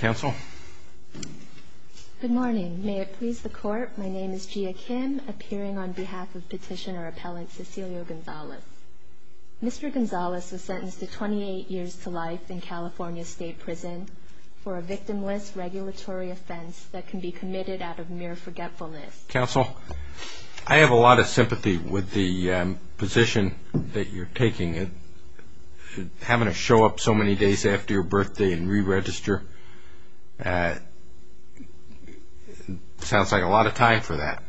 Good morning. May it please the court, my name is Jia Kim, appearing on behalf of Petitioner Appellant Cecilio Gonzalez. Mr. Gonzalez was sentenced to 28 years to life in California State Prison for a victimless regulatory offense that can be committed out of mere forgetfulness. Counsel, I have a lot of sympathy with the position that you're taking. Having to show up so many days after your birthday and re-register, sounds like a lot of time for that.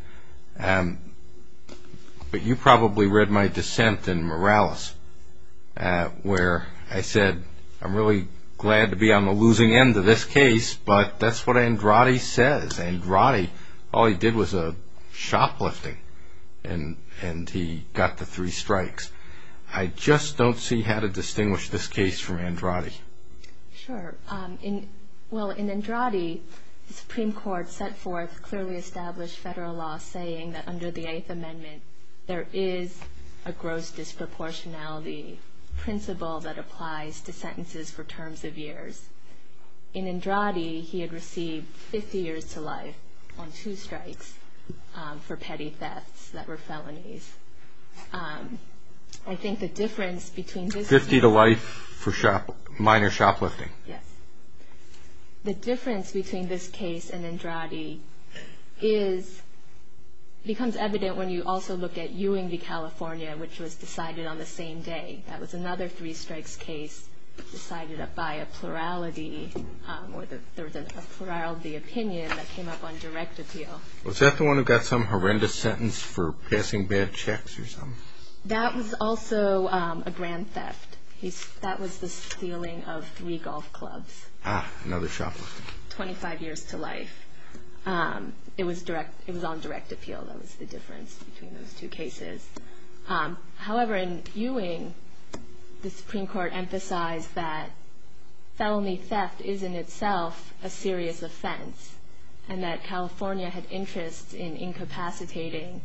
But you probably read my dissent in Morales, where I said, I'm really glad to be on the losing end of this case, but that's what Andrade says. Andrade, all he did was a shoplifting and he got the three strikes. I just don't see how to distinguish this case from Andrade. Sure. Well, in Andrade, the Supreme Court set forth clearly established federal law saying that under the Eighth Amendment, there is a gross disproportionality principle that applies to sentences for terms of years. In Andrade, he had received 50 years to life on two strikes for petty thefts that were felonies. I think the difference between this case... 50 to life for minor shoplifting. Yes. The difference between this case and Andrade becomes evident when you also look at Ewing v. California, which was decided on the same day. That was another three strikes decided by a plurality, or there was a plurality opinion that came up on direct appeal. Was that the one who got some horrendous sentence for passing bad checks or something? That was also a grand theft. That was the stealing of three golf clubs. Ah, another shoplifting. 25 years to life. It was on direct appeal. That was the difference between those two cases. However, in Ewing, the Supreme Court emphasized that felony theft is in itself a serious offense and that California had interests in incapacitating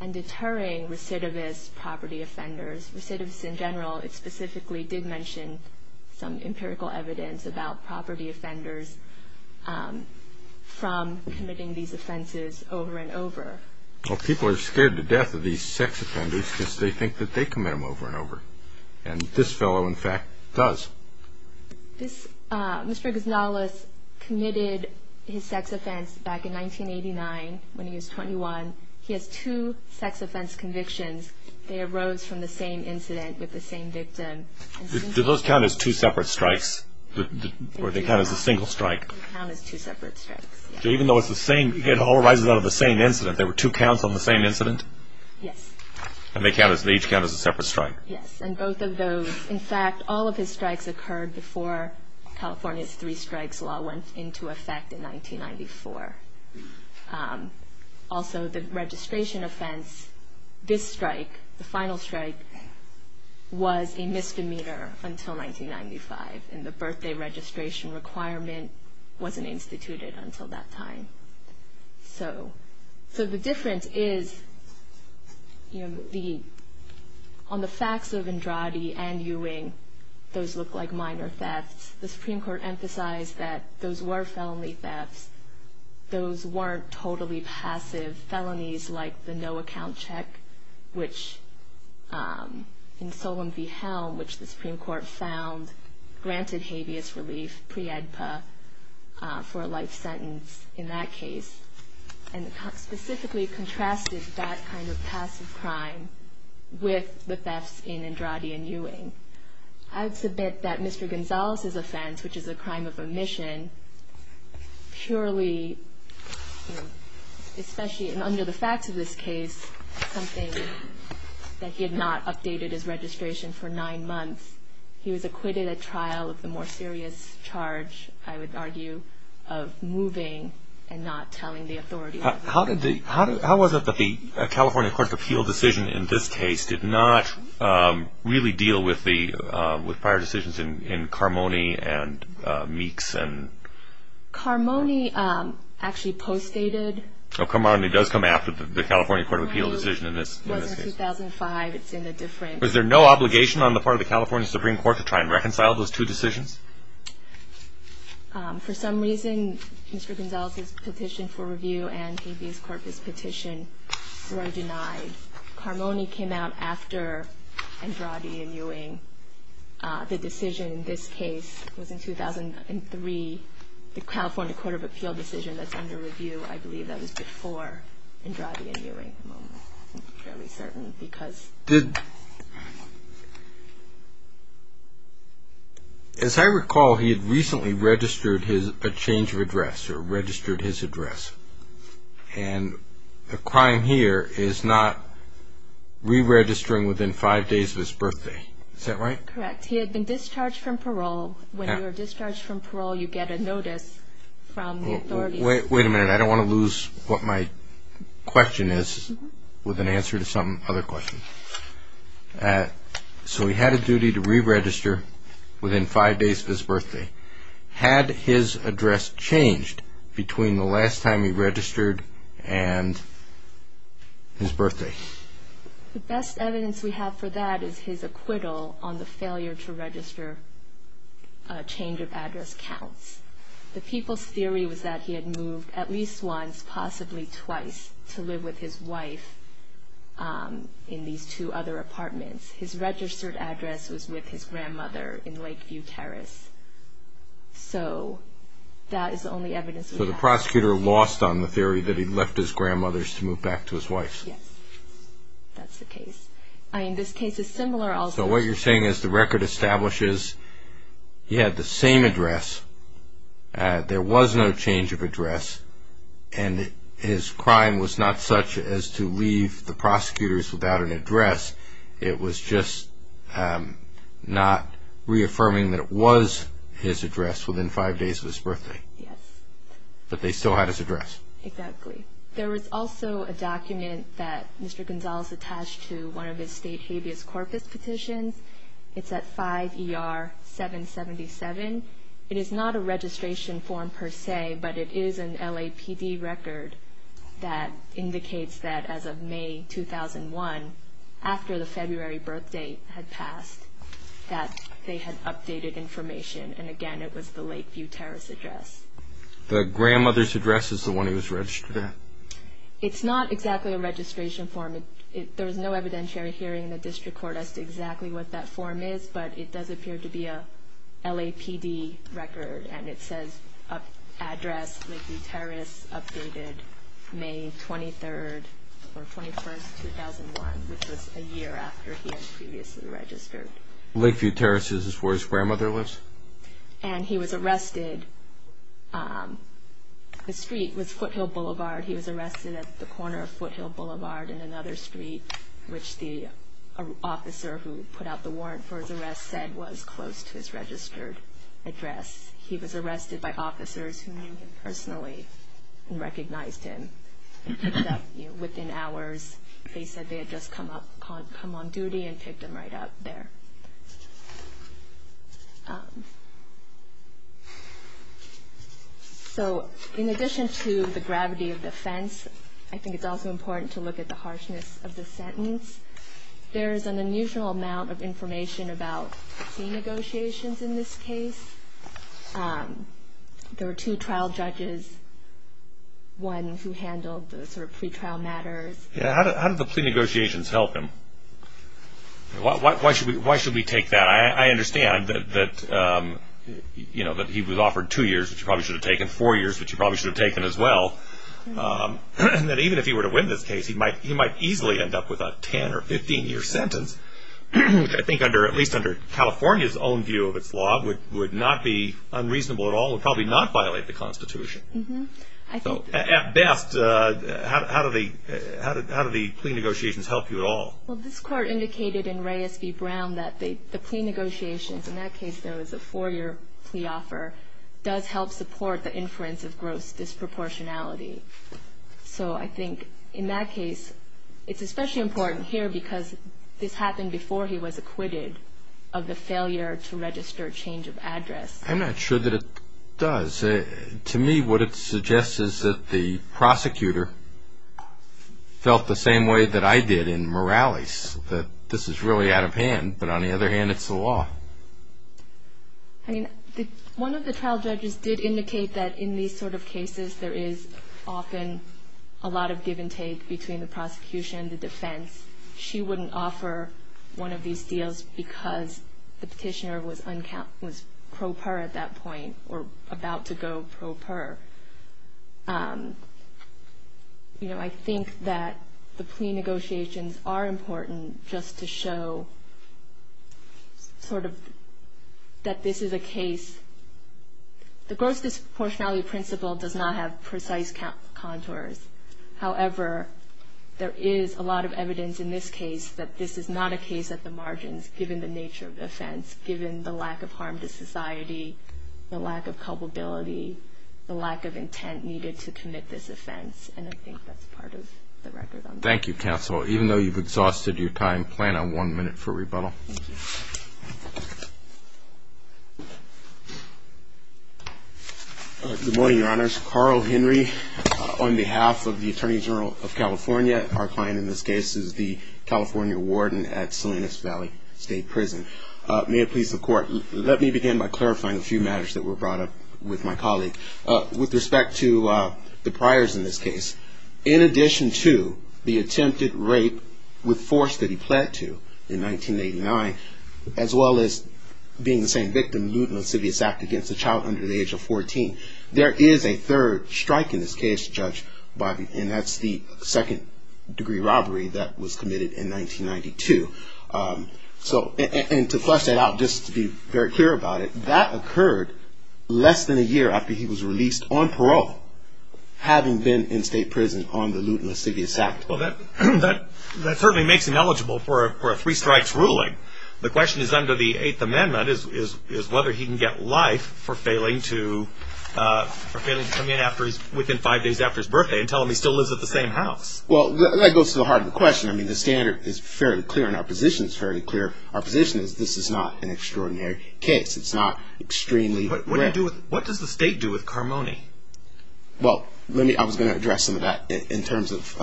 and deterring recidivist property offenders. Recidivists in general, it specifically did mention some empirical evidence about property offenders from committing these offenses over and over. Well, people are scared to death of these sex offenders because they think that they commit them over and over. And this fellow, in fact, does. Mr. Gonzalez committed his sex offense back in 1989 when he was 21. He has two sex offense convictions. They arose from the same incident with the same victim. Do those count as two separate strikes, or do they count as a single strike? They count as two separate strikes, yes. Even though it's the same, it all arises out of the same incident. There were two counts on the same incident? Yes. And they each count as a separate strike? Yes, and both of those, in fact, all of his strikes occurred before California's three strikes law went into effect in 1994. Also, the registration offense, this strike, the final strike, was a misdemeanor until 1995. And the birthday registration requirement wasn't instituted until that time. So the difference is, on the facts of Andrade and Ewing, those look like minor thefts. The Supreme Court emphasized that those were felony thefts. Those weren't totally passive felonies like the no-account check, which in Solon v. Helm, which the Supreme Court found granted habeas relief pre-EDPA for a life sentence in that case, and specifically contrasted that kind of passive crime with the thefts in Andrade and Ewing. I would submit that Mr. Gonzalez's offense, which is a crime of omission, purely, especially under the facts of this case, is something that he had not updated his registration for nine months. He was acquitted at trial of the more serious charge, I would argue, of moving and not telling the authorities. How was it that the California Court of Appeals decision in this case did not really deal with prior decisions in Carmoni and Meeks? Carmoni actually postdated. Oh, Carmoni does come after the California Court of Appeals decision in this case. It was in 2005. Was there no obligation on the part of the California Supreme Court to try and reconcile those two decisions? For some reason, Mr. Gonzalez's petition for review and Habeas Corpus petition were denied. Carmoni came out after Andrade and Ewing. The decision in this case was in 2003, the California Court of Appeals decision that's under review. I believe that was before Andrade and Ewing at the moment. I'm fairly certain because. As I recall, he had recently registered a change of address or registered his address, and the crime here is not re-registering within five days of his birthday. Is that right? Correct. He had been discharged from parole. When you are discharged from parole, you get a notice from the authorities. Wait a minute. I don't want to lose what my question is with an answer to some other question. So he had a duty to re-register within five days of his birthday. Had his address changed between the last time he registered and his birthday? The best evidence we have for that is his acquittal on the failure to register change of address counts. The people's theory was that he had moved at least once, possibly twice, to live with his wife in these two other apartments. His registered address was with his grandmother in Lakeview Terrace. So that is the only evidence we have. So the prosecutor lost on the theory that he left his grandmother's to move back to his wife's. Yes, that's the case. This case is similar also. So what you're saying is the record establishes he had the same address, there was no change of address, and his crime was not such as to leave the prosecutors without an address. It was just not reaffirming that it was his address within five days of his birthday. Yes. But they still had his address. Exactly. There was also a document that Mr. Gonzalez attached to one of his state habeas corpus petitions. It's at 5 ER 777. It is not a registration form per se, but it is an LAPD record that indicates that as of May 2001, after the February birthday had passed, that they had updated information. And, again, it was the Lakeview Terrace address. The grandmother's address is the one he was registered at. It's not exactly a registration form. There was no evidentiary hearing in the district court as to exactly what that form is, but it does appear to be a LAPD record, and it says address Lakeview Terrace, updated May 23rd, or 21st, 2001, which was a year after he had previously registered. Lakeview Terrace is where his grandmother lives? And he was arrested. The street was Foothill Boulevard. He was arrested at the corner of Foothill Boulevard and another street, which the officer who put out the warrant for his arrest said was close to his registered address. He was arrested by officers who knew him personally and recognized him. Within hours, they said they had just come on duty and picked him right up there. So, in addition to the gravity of the offense, I think it's also important to look at the harshness of the sentence. There is an unusual amount of information about plea negotiations in this case. There were two trial judges, one who handled the sort of pretrial matters. How did the plea negotiations help him? Why should we take that? I understand that he was offered two years, which he probably should have taken, and that even if he were to win this case, he might easily end up with a 10- or 15-year sentence, which I think, at least under California's own view of its law, would not be unreasonable at all. It would probably not violate the Constitution. So, at best, how do the plea negotiations help you at all? Well, this court indicated in Reyes v. Brown that the plea negotiations, in that case, though, it was a four-year plea offer, does help support the inference of gross disproportionality. So, I think in that case, it's especially important here because this happened before he was acquitted of the failure to register a change of address. I'm not sure that it does. To me, what it suggests is that the prosecutor felt the same way that I did in Morales, that this is really out of hand, but on the other hand, it's the law. I mean, one of the trial judges did indicate that in these sort of cases, there is often a lot of give and take between the prosecution and the defense. She wouldn't offer one of these deals because the petitioner was pro per at that point, or about to go pro per. You know, I think that the plea negotiations are important just to show sort of that this is a case. The gross disproportionality principle does not have precise contours. However, there is a lot of evidence in this case that this is not a case at the margins, given the nature of the offense, given the lack of harm to society, the lack of culpability, the lack of intent needed to commit this offense, and I think that's part of the record on this. Thank you, Counsel. Even though you've exhausted your time, plan on one minute for rebuttal. Thank you. Good morning, Your Honors. Carl Henry on behalf of the Attorney General of California. Our client in this case is the California Warden at Salinas Valley State Prison. May it please the Court, let me begin by clarifying a few matters that were brought up with my colleague. With respect to the priors in this case, in addition to the attempted rape with force that he pled to in 1989, as well as being the same victim, lewd and lascivious act against a child under the age of 14, there is a third strike in this case, Judge Bobby, and that's the second degree robbery that was committed in 1992. And to flesh that out, just to be very clear about it, that occurred less than a year after he was released on parole, having been in state prison on the lewd and lascivious act. Well, that certainly makes him eligible for a three strikes ruling. The question is under the Eighth Amendment, is whether he can get life for failing to come in within five days after his birthday and tell him he still lives at the same house. Well, that goes to the heart of the question. I mean, the standard is fairly clear, and our position is fairly clear. Our position is this is not an extraordinary case. It's not extremely rare. But what does the state do with Carmoni? Well, I was going to address some of that in terms of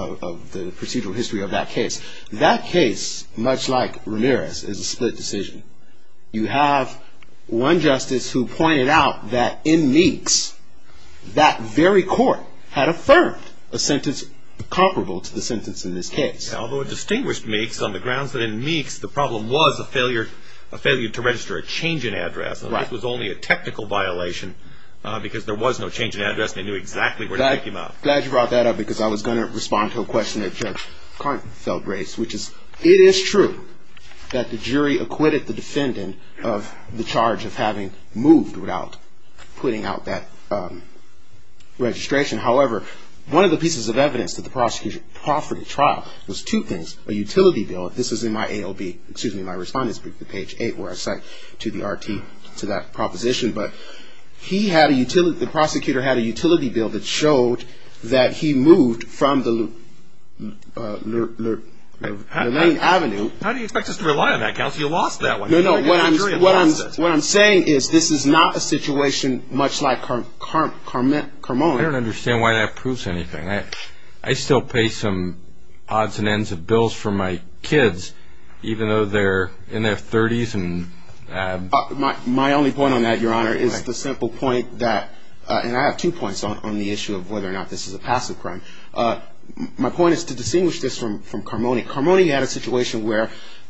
the procedural history of that case. That case, much like Ramirez, is a split decision. You have one justice who pointed out that in Meeks, that very court had affirmed a sentence comparable to the sentence in this case. Although it distinguished Meeks on the grounds that in Meeks, the problem was a failure to register a change in address. This was only a technical violation because there was no change in address, and they knew exactly where to take him out. Glad you brought that up because I was going to respond to a question that Judge Carnton felt raised, which is it is true that the jury acquitted the defendant of the charge of having moved without putting out that registration. However, one of the pieces of evidence that the prosecution proffered at trial was two things, a utility bill. This is in my AOB, excuse me, my respondent's brief, page 8, where I cite to the RT to that proposition. But he had a utility, the prosecutor had a utility bill that showed that he moved from the Lane Avenue. How do you expect us to rely on that, counsel? You lost that one. No, no, what I'm saying is this is not a situation much like Carmoni. I don't understand why that proves anything. I still pay some odds and ends of bills for my kids, even though they're in their 30s. My only point on that, Your Honor, is the simple point that, and I have two points on the issue of whether or not this is a passive crime. My point is to distinguish this from Carmoni. Carmoni had a situation where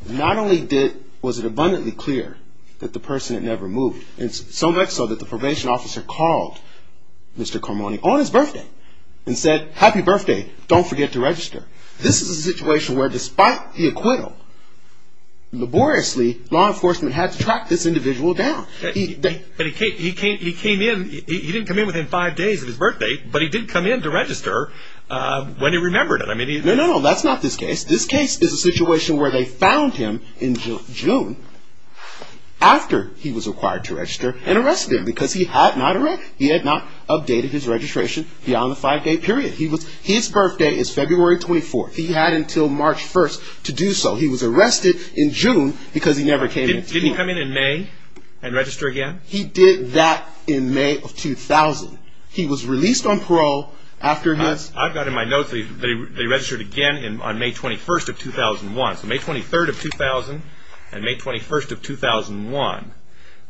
not only was it abundantly clear that the person had never moved, so much so that the probation officer called Mr. Carmoni on his birthday and said, Happy birthday, don't forget to register. This is a situation where despite the acquittal, laboriously, law enforcement had to track this individual down. But he came in, he didn't come in within five days of his birthday, but he did come in to register when he remembered it. No, no, no, that's not this case. This case is a situation where they found him in June after he was required to register and arrested him because he had not, he had not updated his registration beyond the five-day period. His birthday is February 24th. He had until March 1st to do so. He was arrested in June because he never came in. Didn't he come in in May and register again? He did that in May of 2000. He was released on parole after his... I've got in my notes that he registered again on May 21st of 2001. So May 23rd of 2000 and May 21st of 2001.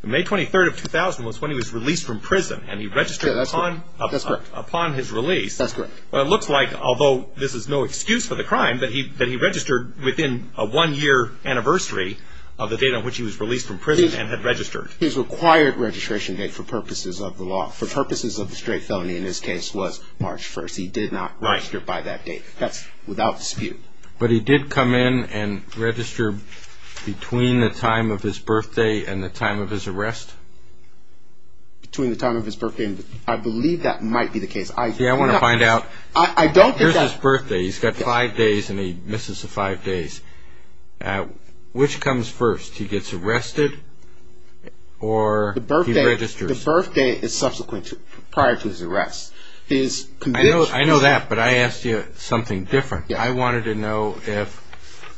May 23rd of 2000 was when he was released from prison and he registered upon his release. That's correct. Well, it looks like, although this is no excuse for the crime, that he registered within a one-year anniversary of the date on which he was released from prison and had registered. His required registration date for purposes of the law, for purposes of the straight felony in this case, was March 1st. He did not register by that date. That's without dispute. But he did come in and register between the time of his birthday and the time of his arrest? Between the time of his birthday and the... I believe that might be the case. Yeah, I want to find out. I don't think that... Here's his birthday. He's got five days and he misses the five days. Which comes first? He gets arrested or he registers? The birthday is subsequent to, prior to his arrest. I know that, but I asked you something different. I wanted to know if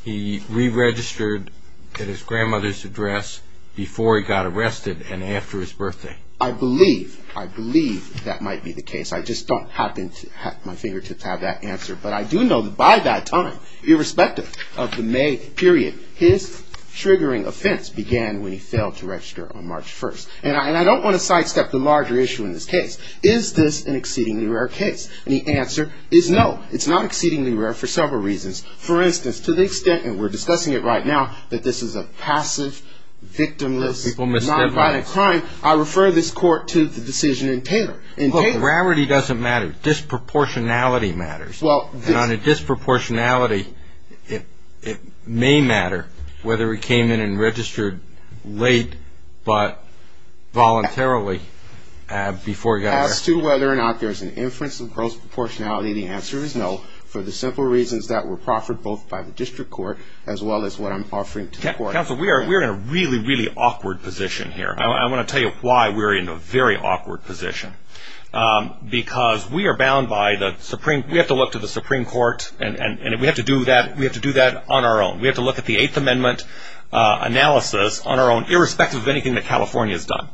he re-registered at his grandmother's address before he got arrested and after his birthday. I believe, I believe that might be the case. I just don't happen to have my fingertips have that answer. But I do know that by that time, irrespective of the May period, his triggering offense began when he failed to register on March 1st. And I don't want to sidestep the larger issue in this case. Is this an exceedingly rare case? And the answer is no. It's not exceedingly rare for several reasons. For instance, to the extent, and we're discussing it right now, that this is a passive, victimless, non-violent crime, I refer this court to the decision in Taylor. Look, rarity doesn't matter. Disproportionality matters. And on a disproportionality, it may matter whether he came in and registered late but voluntarily before he got arrested. As to whether or not there's an inference of proportionality, the answer is no, for the simple reasons that were proffered both by the district court as well as what I'm offering to the court. Counsel, we are in a really, really awkward position here. I want to tell you why we're in a very awkward position. Because we are bound by the Supreme, we have to look to the Supreme Court, and we have to do that on our own. We have to look at the Eighth Amendment analysis on our own, irrespective of anything that California has done.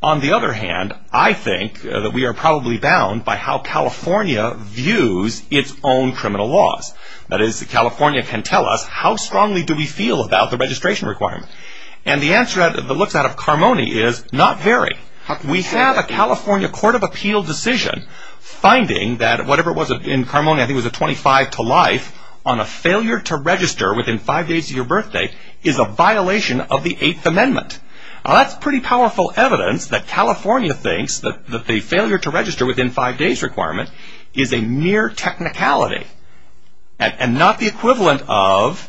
On the other hand, I think that we are probably bound by how California views its own criminal laws. That is, California can tell us how strongly do we feel about the registration requirement. And the answer that looks out of Carmoni is, not very. We have a California Court of Appeal decision finding that whatever it was in Carmoni, I think it was a 25 to life, on a failure to register within five days of your birthday, is a violation of the Eighth Amendment. Now, that's pretty powerful evidence that California thinks that the failure to register within five days requirement is a mere technicality, and not the equivalent of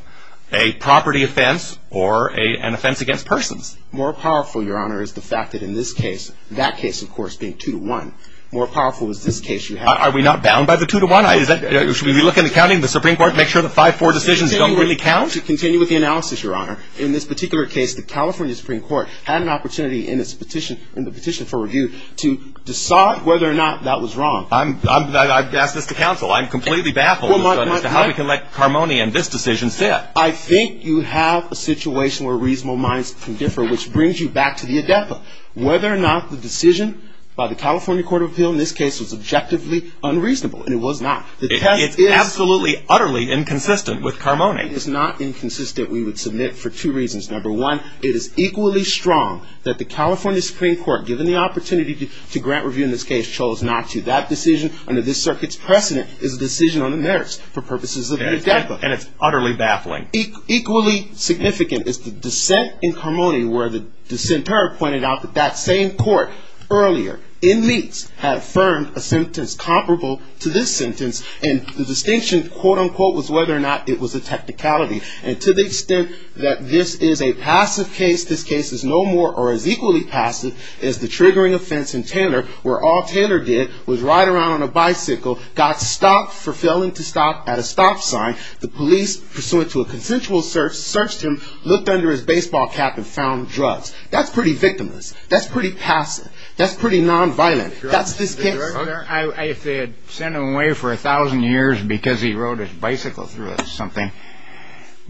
a property offense or an offense against persons. More powerful, Your Honor, is the fact that in this case, that case, of course, being 2 to 1, more powerful is this case you have. Are we not bound by the 2 to 1? Should we be looking at counting the Supreme Court to make sure the 5-4 decisions don't really count? I would like to continue with the analysis, Your Honor. In this particular case, the California Supreme Court had an opportunity in its petition, in the petition for review, to decide whether or not that was wrong. I've asked this to counsel. I'm completely baffled as to how we can let Carmoni and this decision sit. I think you have a situation where reasonable minds can differ, which brings you back to the ADEPA. Whether or not the decision by the California Court of Appeal in this case was objectively unreasonable, and it was not. It's absolutely, utterly inconsistent with Carmoni. It's not inconsistent, we would submit, for two reasons. Number one, it is equally strong that the California Supreme Court, given the opportunity to grant review in this case, chose not to. That decision, under this circuit's precedent, is a decision on the merits for purposes of the ADEPA. And it's utterly baffling. Equally significant is the dissent in Carmoni, where the dissenter pointed out that that same court earlier, in Leakes, had affirmed a sentence comparable to this sentence. And the distinction, quote, unquote, was whether or not it was a technicality. And to the extent that this is a passive case, this case is no more or as equally passive as the triggering offense in Taylor, where all Taylor did was ride around on a bicycle, got stopped for failing to stop at a stop sign. The police, pursuant to a consensual search, searched him, looked under his baseball cap and found drugs. That's pretty victimless. That's pretty passive. That's pretty nonviolent. That's this case. If they had sent him away for a thousand years because he rode his bicycle through something,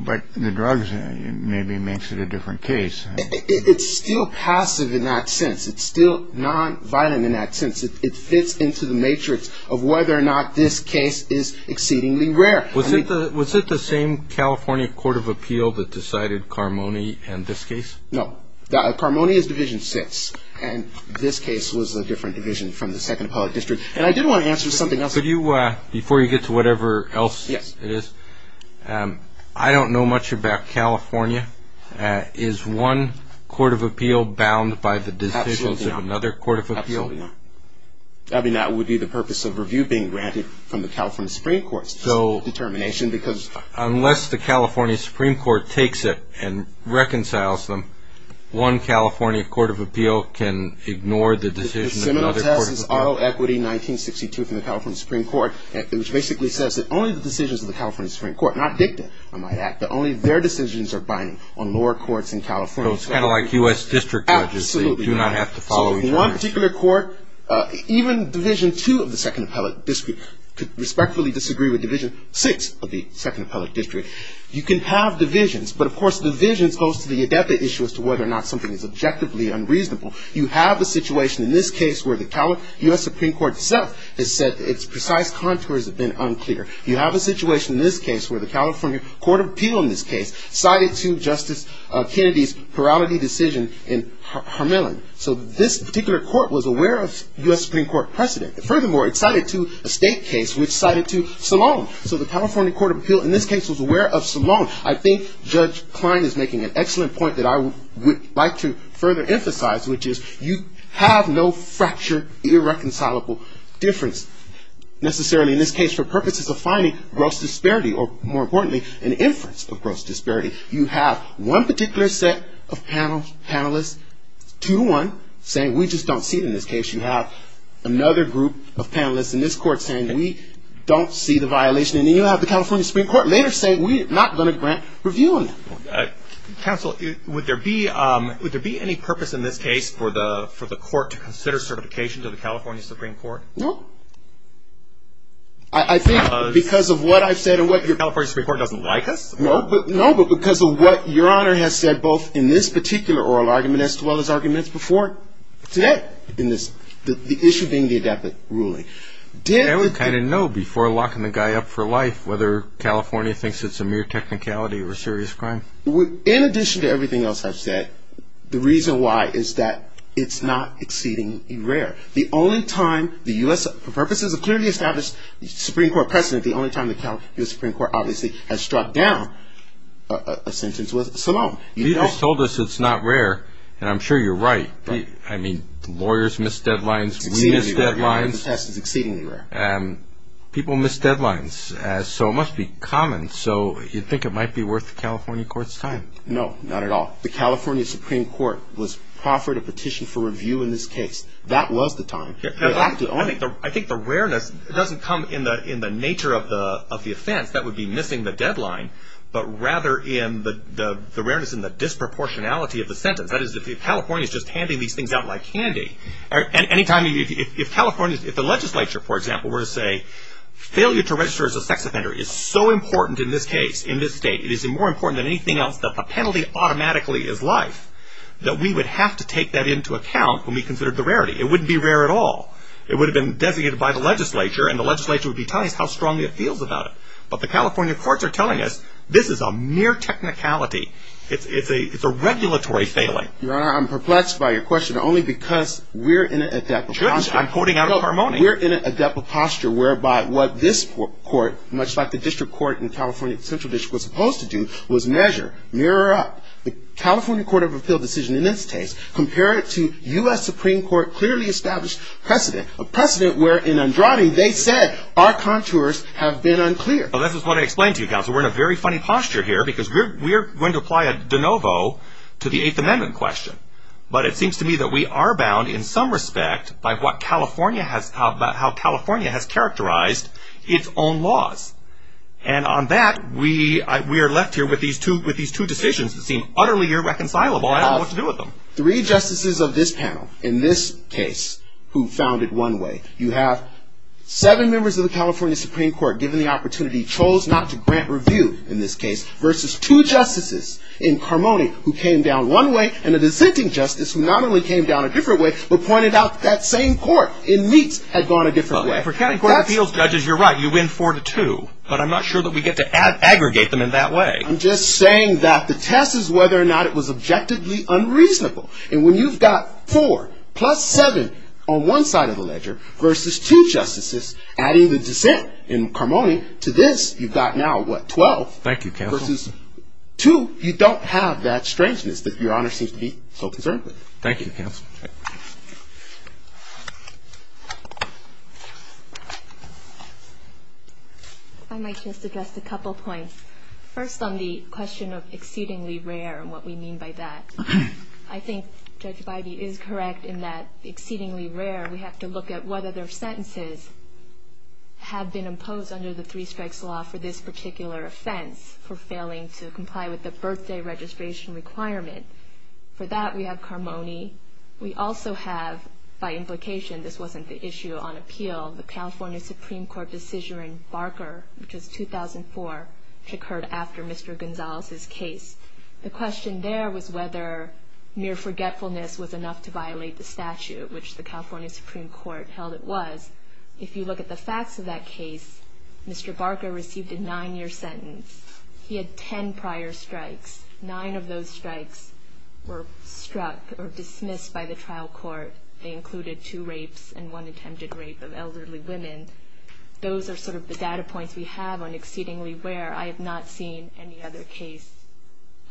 but the drugs maybe makes it a different case. It's still passive in that sense. It's still nonviolent in that sense. It fits into the matrix of whether or not this case is exceedingly rare. Was it the same California court of appeal that decided Carmoni and this case? No. Carmoni's division sits. And this case was a different division from the Second Appellate District. And I did want to answer something else. Before you get to whatever else it is, I don't know much about California. Is one court of appeal bound by the decisions of another court of appeal? Absolutely not. That would be the purpose of review being granted from the California Supreme Court. Unless the California Supreme Court takes it and reconciles them, one California court of appeal can ignore the decision of another court of appeal. The seminal test is auto equity 1962 from the California Supreme Court, which basically says that only the decisions of the California Supreme Court, not dicta, I might add, but only their decisions are binding on lower courts in California. So it's kind of like U.S. district judges. Absolutely. They do not have to follow each other. One particular court, even Division 2 of the Second Appellate District, could respectfully disagree with Division 6 of the Second Appellate District. You can have divisions. But, of course, divisions goes to the adepti issue as to whether or not something is objectively unreasonable. You have a situation in this case where the U.S. Supreme Court itself has said its precise contours have been unclear. You have a situation in this case where the California Court of Appeal in this case cited to Justice Kennedy's plurality decision in Hermillan. So this particular court was aware of U.S. Supreme Court precedent. Furthermore, it cited to a state case which cited to Salone. So the California Court of Appeal in this case was aware of Salone. I think Judge Klein is making an excellent point that I would like to further emphasize, which is you have no fracture irreconcilable difference necessarily in this case for purposes of finding gross disparity or, more importantly, an inference of gross disparity. You have one particular set of panelists, two-to-one, saying we just don't see it in this case. You have another group of panelists in this court saying we don't see the violation. And then you have the California Supreme Court later saying we're not going to grant review on that. Counsel, would there be any purpose in this case for the court to consider certification to the California Supreme Court? No. I think because of what I've said and what your... The California Supreme Court doesn't like us? No, but because of what your Honor has said both in this particular oral argument as well as arguments before, today in this, the issue being the adaptive ruling. Did... I didn't know before locking the guy up for life whether California thinks it's a mere technicality or a serious crime. In addition to everything else I've said, the reason why is that it's not exceedingly rare. The only time the U.S. for purposes of clearly established Supreme Court precedent, the only time the California Supreme Court obviously has struck down a sentence was Salone. You just told us it's not rare, and I'm sure you're right. I mean, lawyers miss deadlines, we miss deadlines. The test is exceedingly rare. People miss deadlines, so it must be common. So you think it might be worth the California Court's time? No, not at all. The California Supreme Court was proffered a petition for review in this case. That was the time. I think the rareness doesn't come in the nature of the offense. That would be missing the deadline, but rather in the rareness and the disproportionality of the sentence. That is, if California is just handing these things out like candy, and any time, if California, if the legislature, for example, were to say, failure to register as a sex offender is so important in this case, in this state, it is more important than anything else, that the penalty automatically is life, that we would have to take that into account when we considered the rarity. It wouldn't be rare at all. It would have been designated by the legislature, and the legislature would be telling us how strongly it feels about it. But the California courts are telling us this is a mere technicality. It's a regulatory failing. Your Honor, I'm perplexed by your question, only because we're in an adept posture. Judge, I'm quoting out of harmony. We're in an adept posture whereby what this court, much like the district court in California Central District was supposed to do, was measure, mirror up. The California Court of Appeal decision in this case, compare it to U.S. Supreme Court clearly established precedent, a precedent where in Andrade they said our contours have been unclear. Well, this is what I explained to you, counsel. We're in a very funny posture here because we're going to apply a de novo to the Eighth Amendment question. But it seems to me that we are bound in some respect by what California has, how California has characterized its own laws. And on that, we are left here with these two decisions that seem utterly irreconcilable. I don't know what to do with them. Three justices of this panel in this case who found it one way. You have seven members of the California Supreme Court given the opportunity, chose not to grant review in this case versus two justices in harmony who came down one way and a dissenting justice who not only came down a different way, but pointed out that same court in Meeks had gone a different way. If we're counting court of appeals judges, you're right. You win four to two. But I'm not sure that we get to aggregate them in that way. I'm just saying that the test is whether or not it was objectively unreasonable. And when you've got four plus seven on one side of the ledger versus two justices adding the dissent in harmony to this, you've got now what, 12? Thank you, counsel. Versus two, you don't have that strangeness that Your Honor seems to be so concerned with. Thank you, counsel. I might just address a couple points. First on the question of exceedingly rare and what we mean by that. I think Judge Bidey is correct in that exceedingly rare, we have to look at whether their sentences have been imposed under the three strikes law for this particular offense, for failing to comply with the birthday registration requirement. For that, we have Carmoni. We also have, by implication, this wasn't the issue on appeal, the California Supreme Court decision in Barker, which was 2004, which occurred after Mr. Gonzalez's case. The question there was whether mere forgetfulness was enough to violate the statute, which the California Supreme Court held it was. If you look at the facts of that case, Mr. Barker received a nine-year sentence. He had ten prior strikes. Nine of those strikes were struck or dismissed by the trial court. They included two rapes and one attempted rape of elderly women. Those are sort of the data points we have on exceedingly rare. I have not seen any other case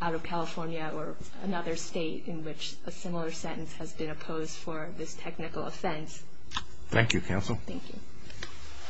out of California or another state in which a similar sentence has been imposed for this technical offense. Thank you, counsel. Thank you.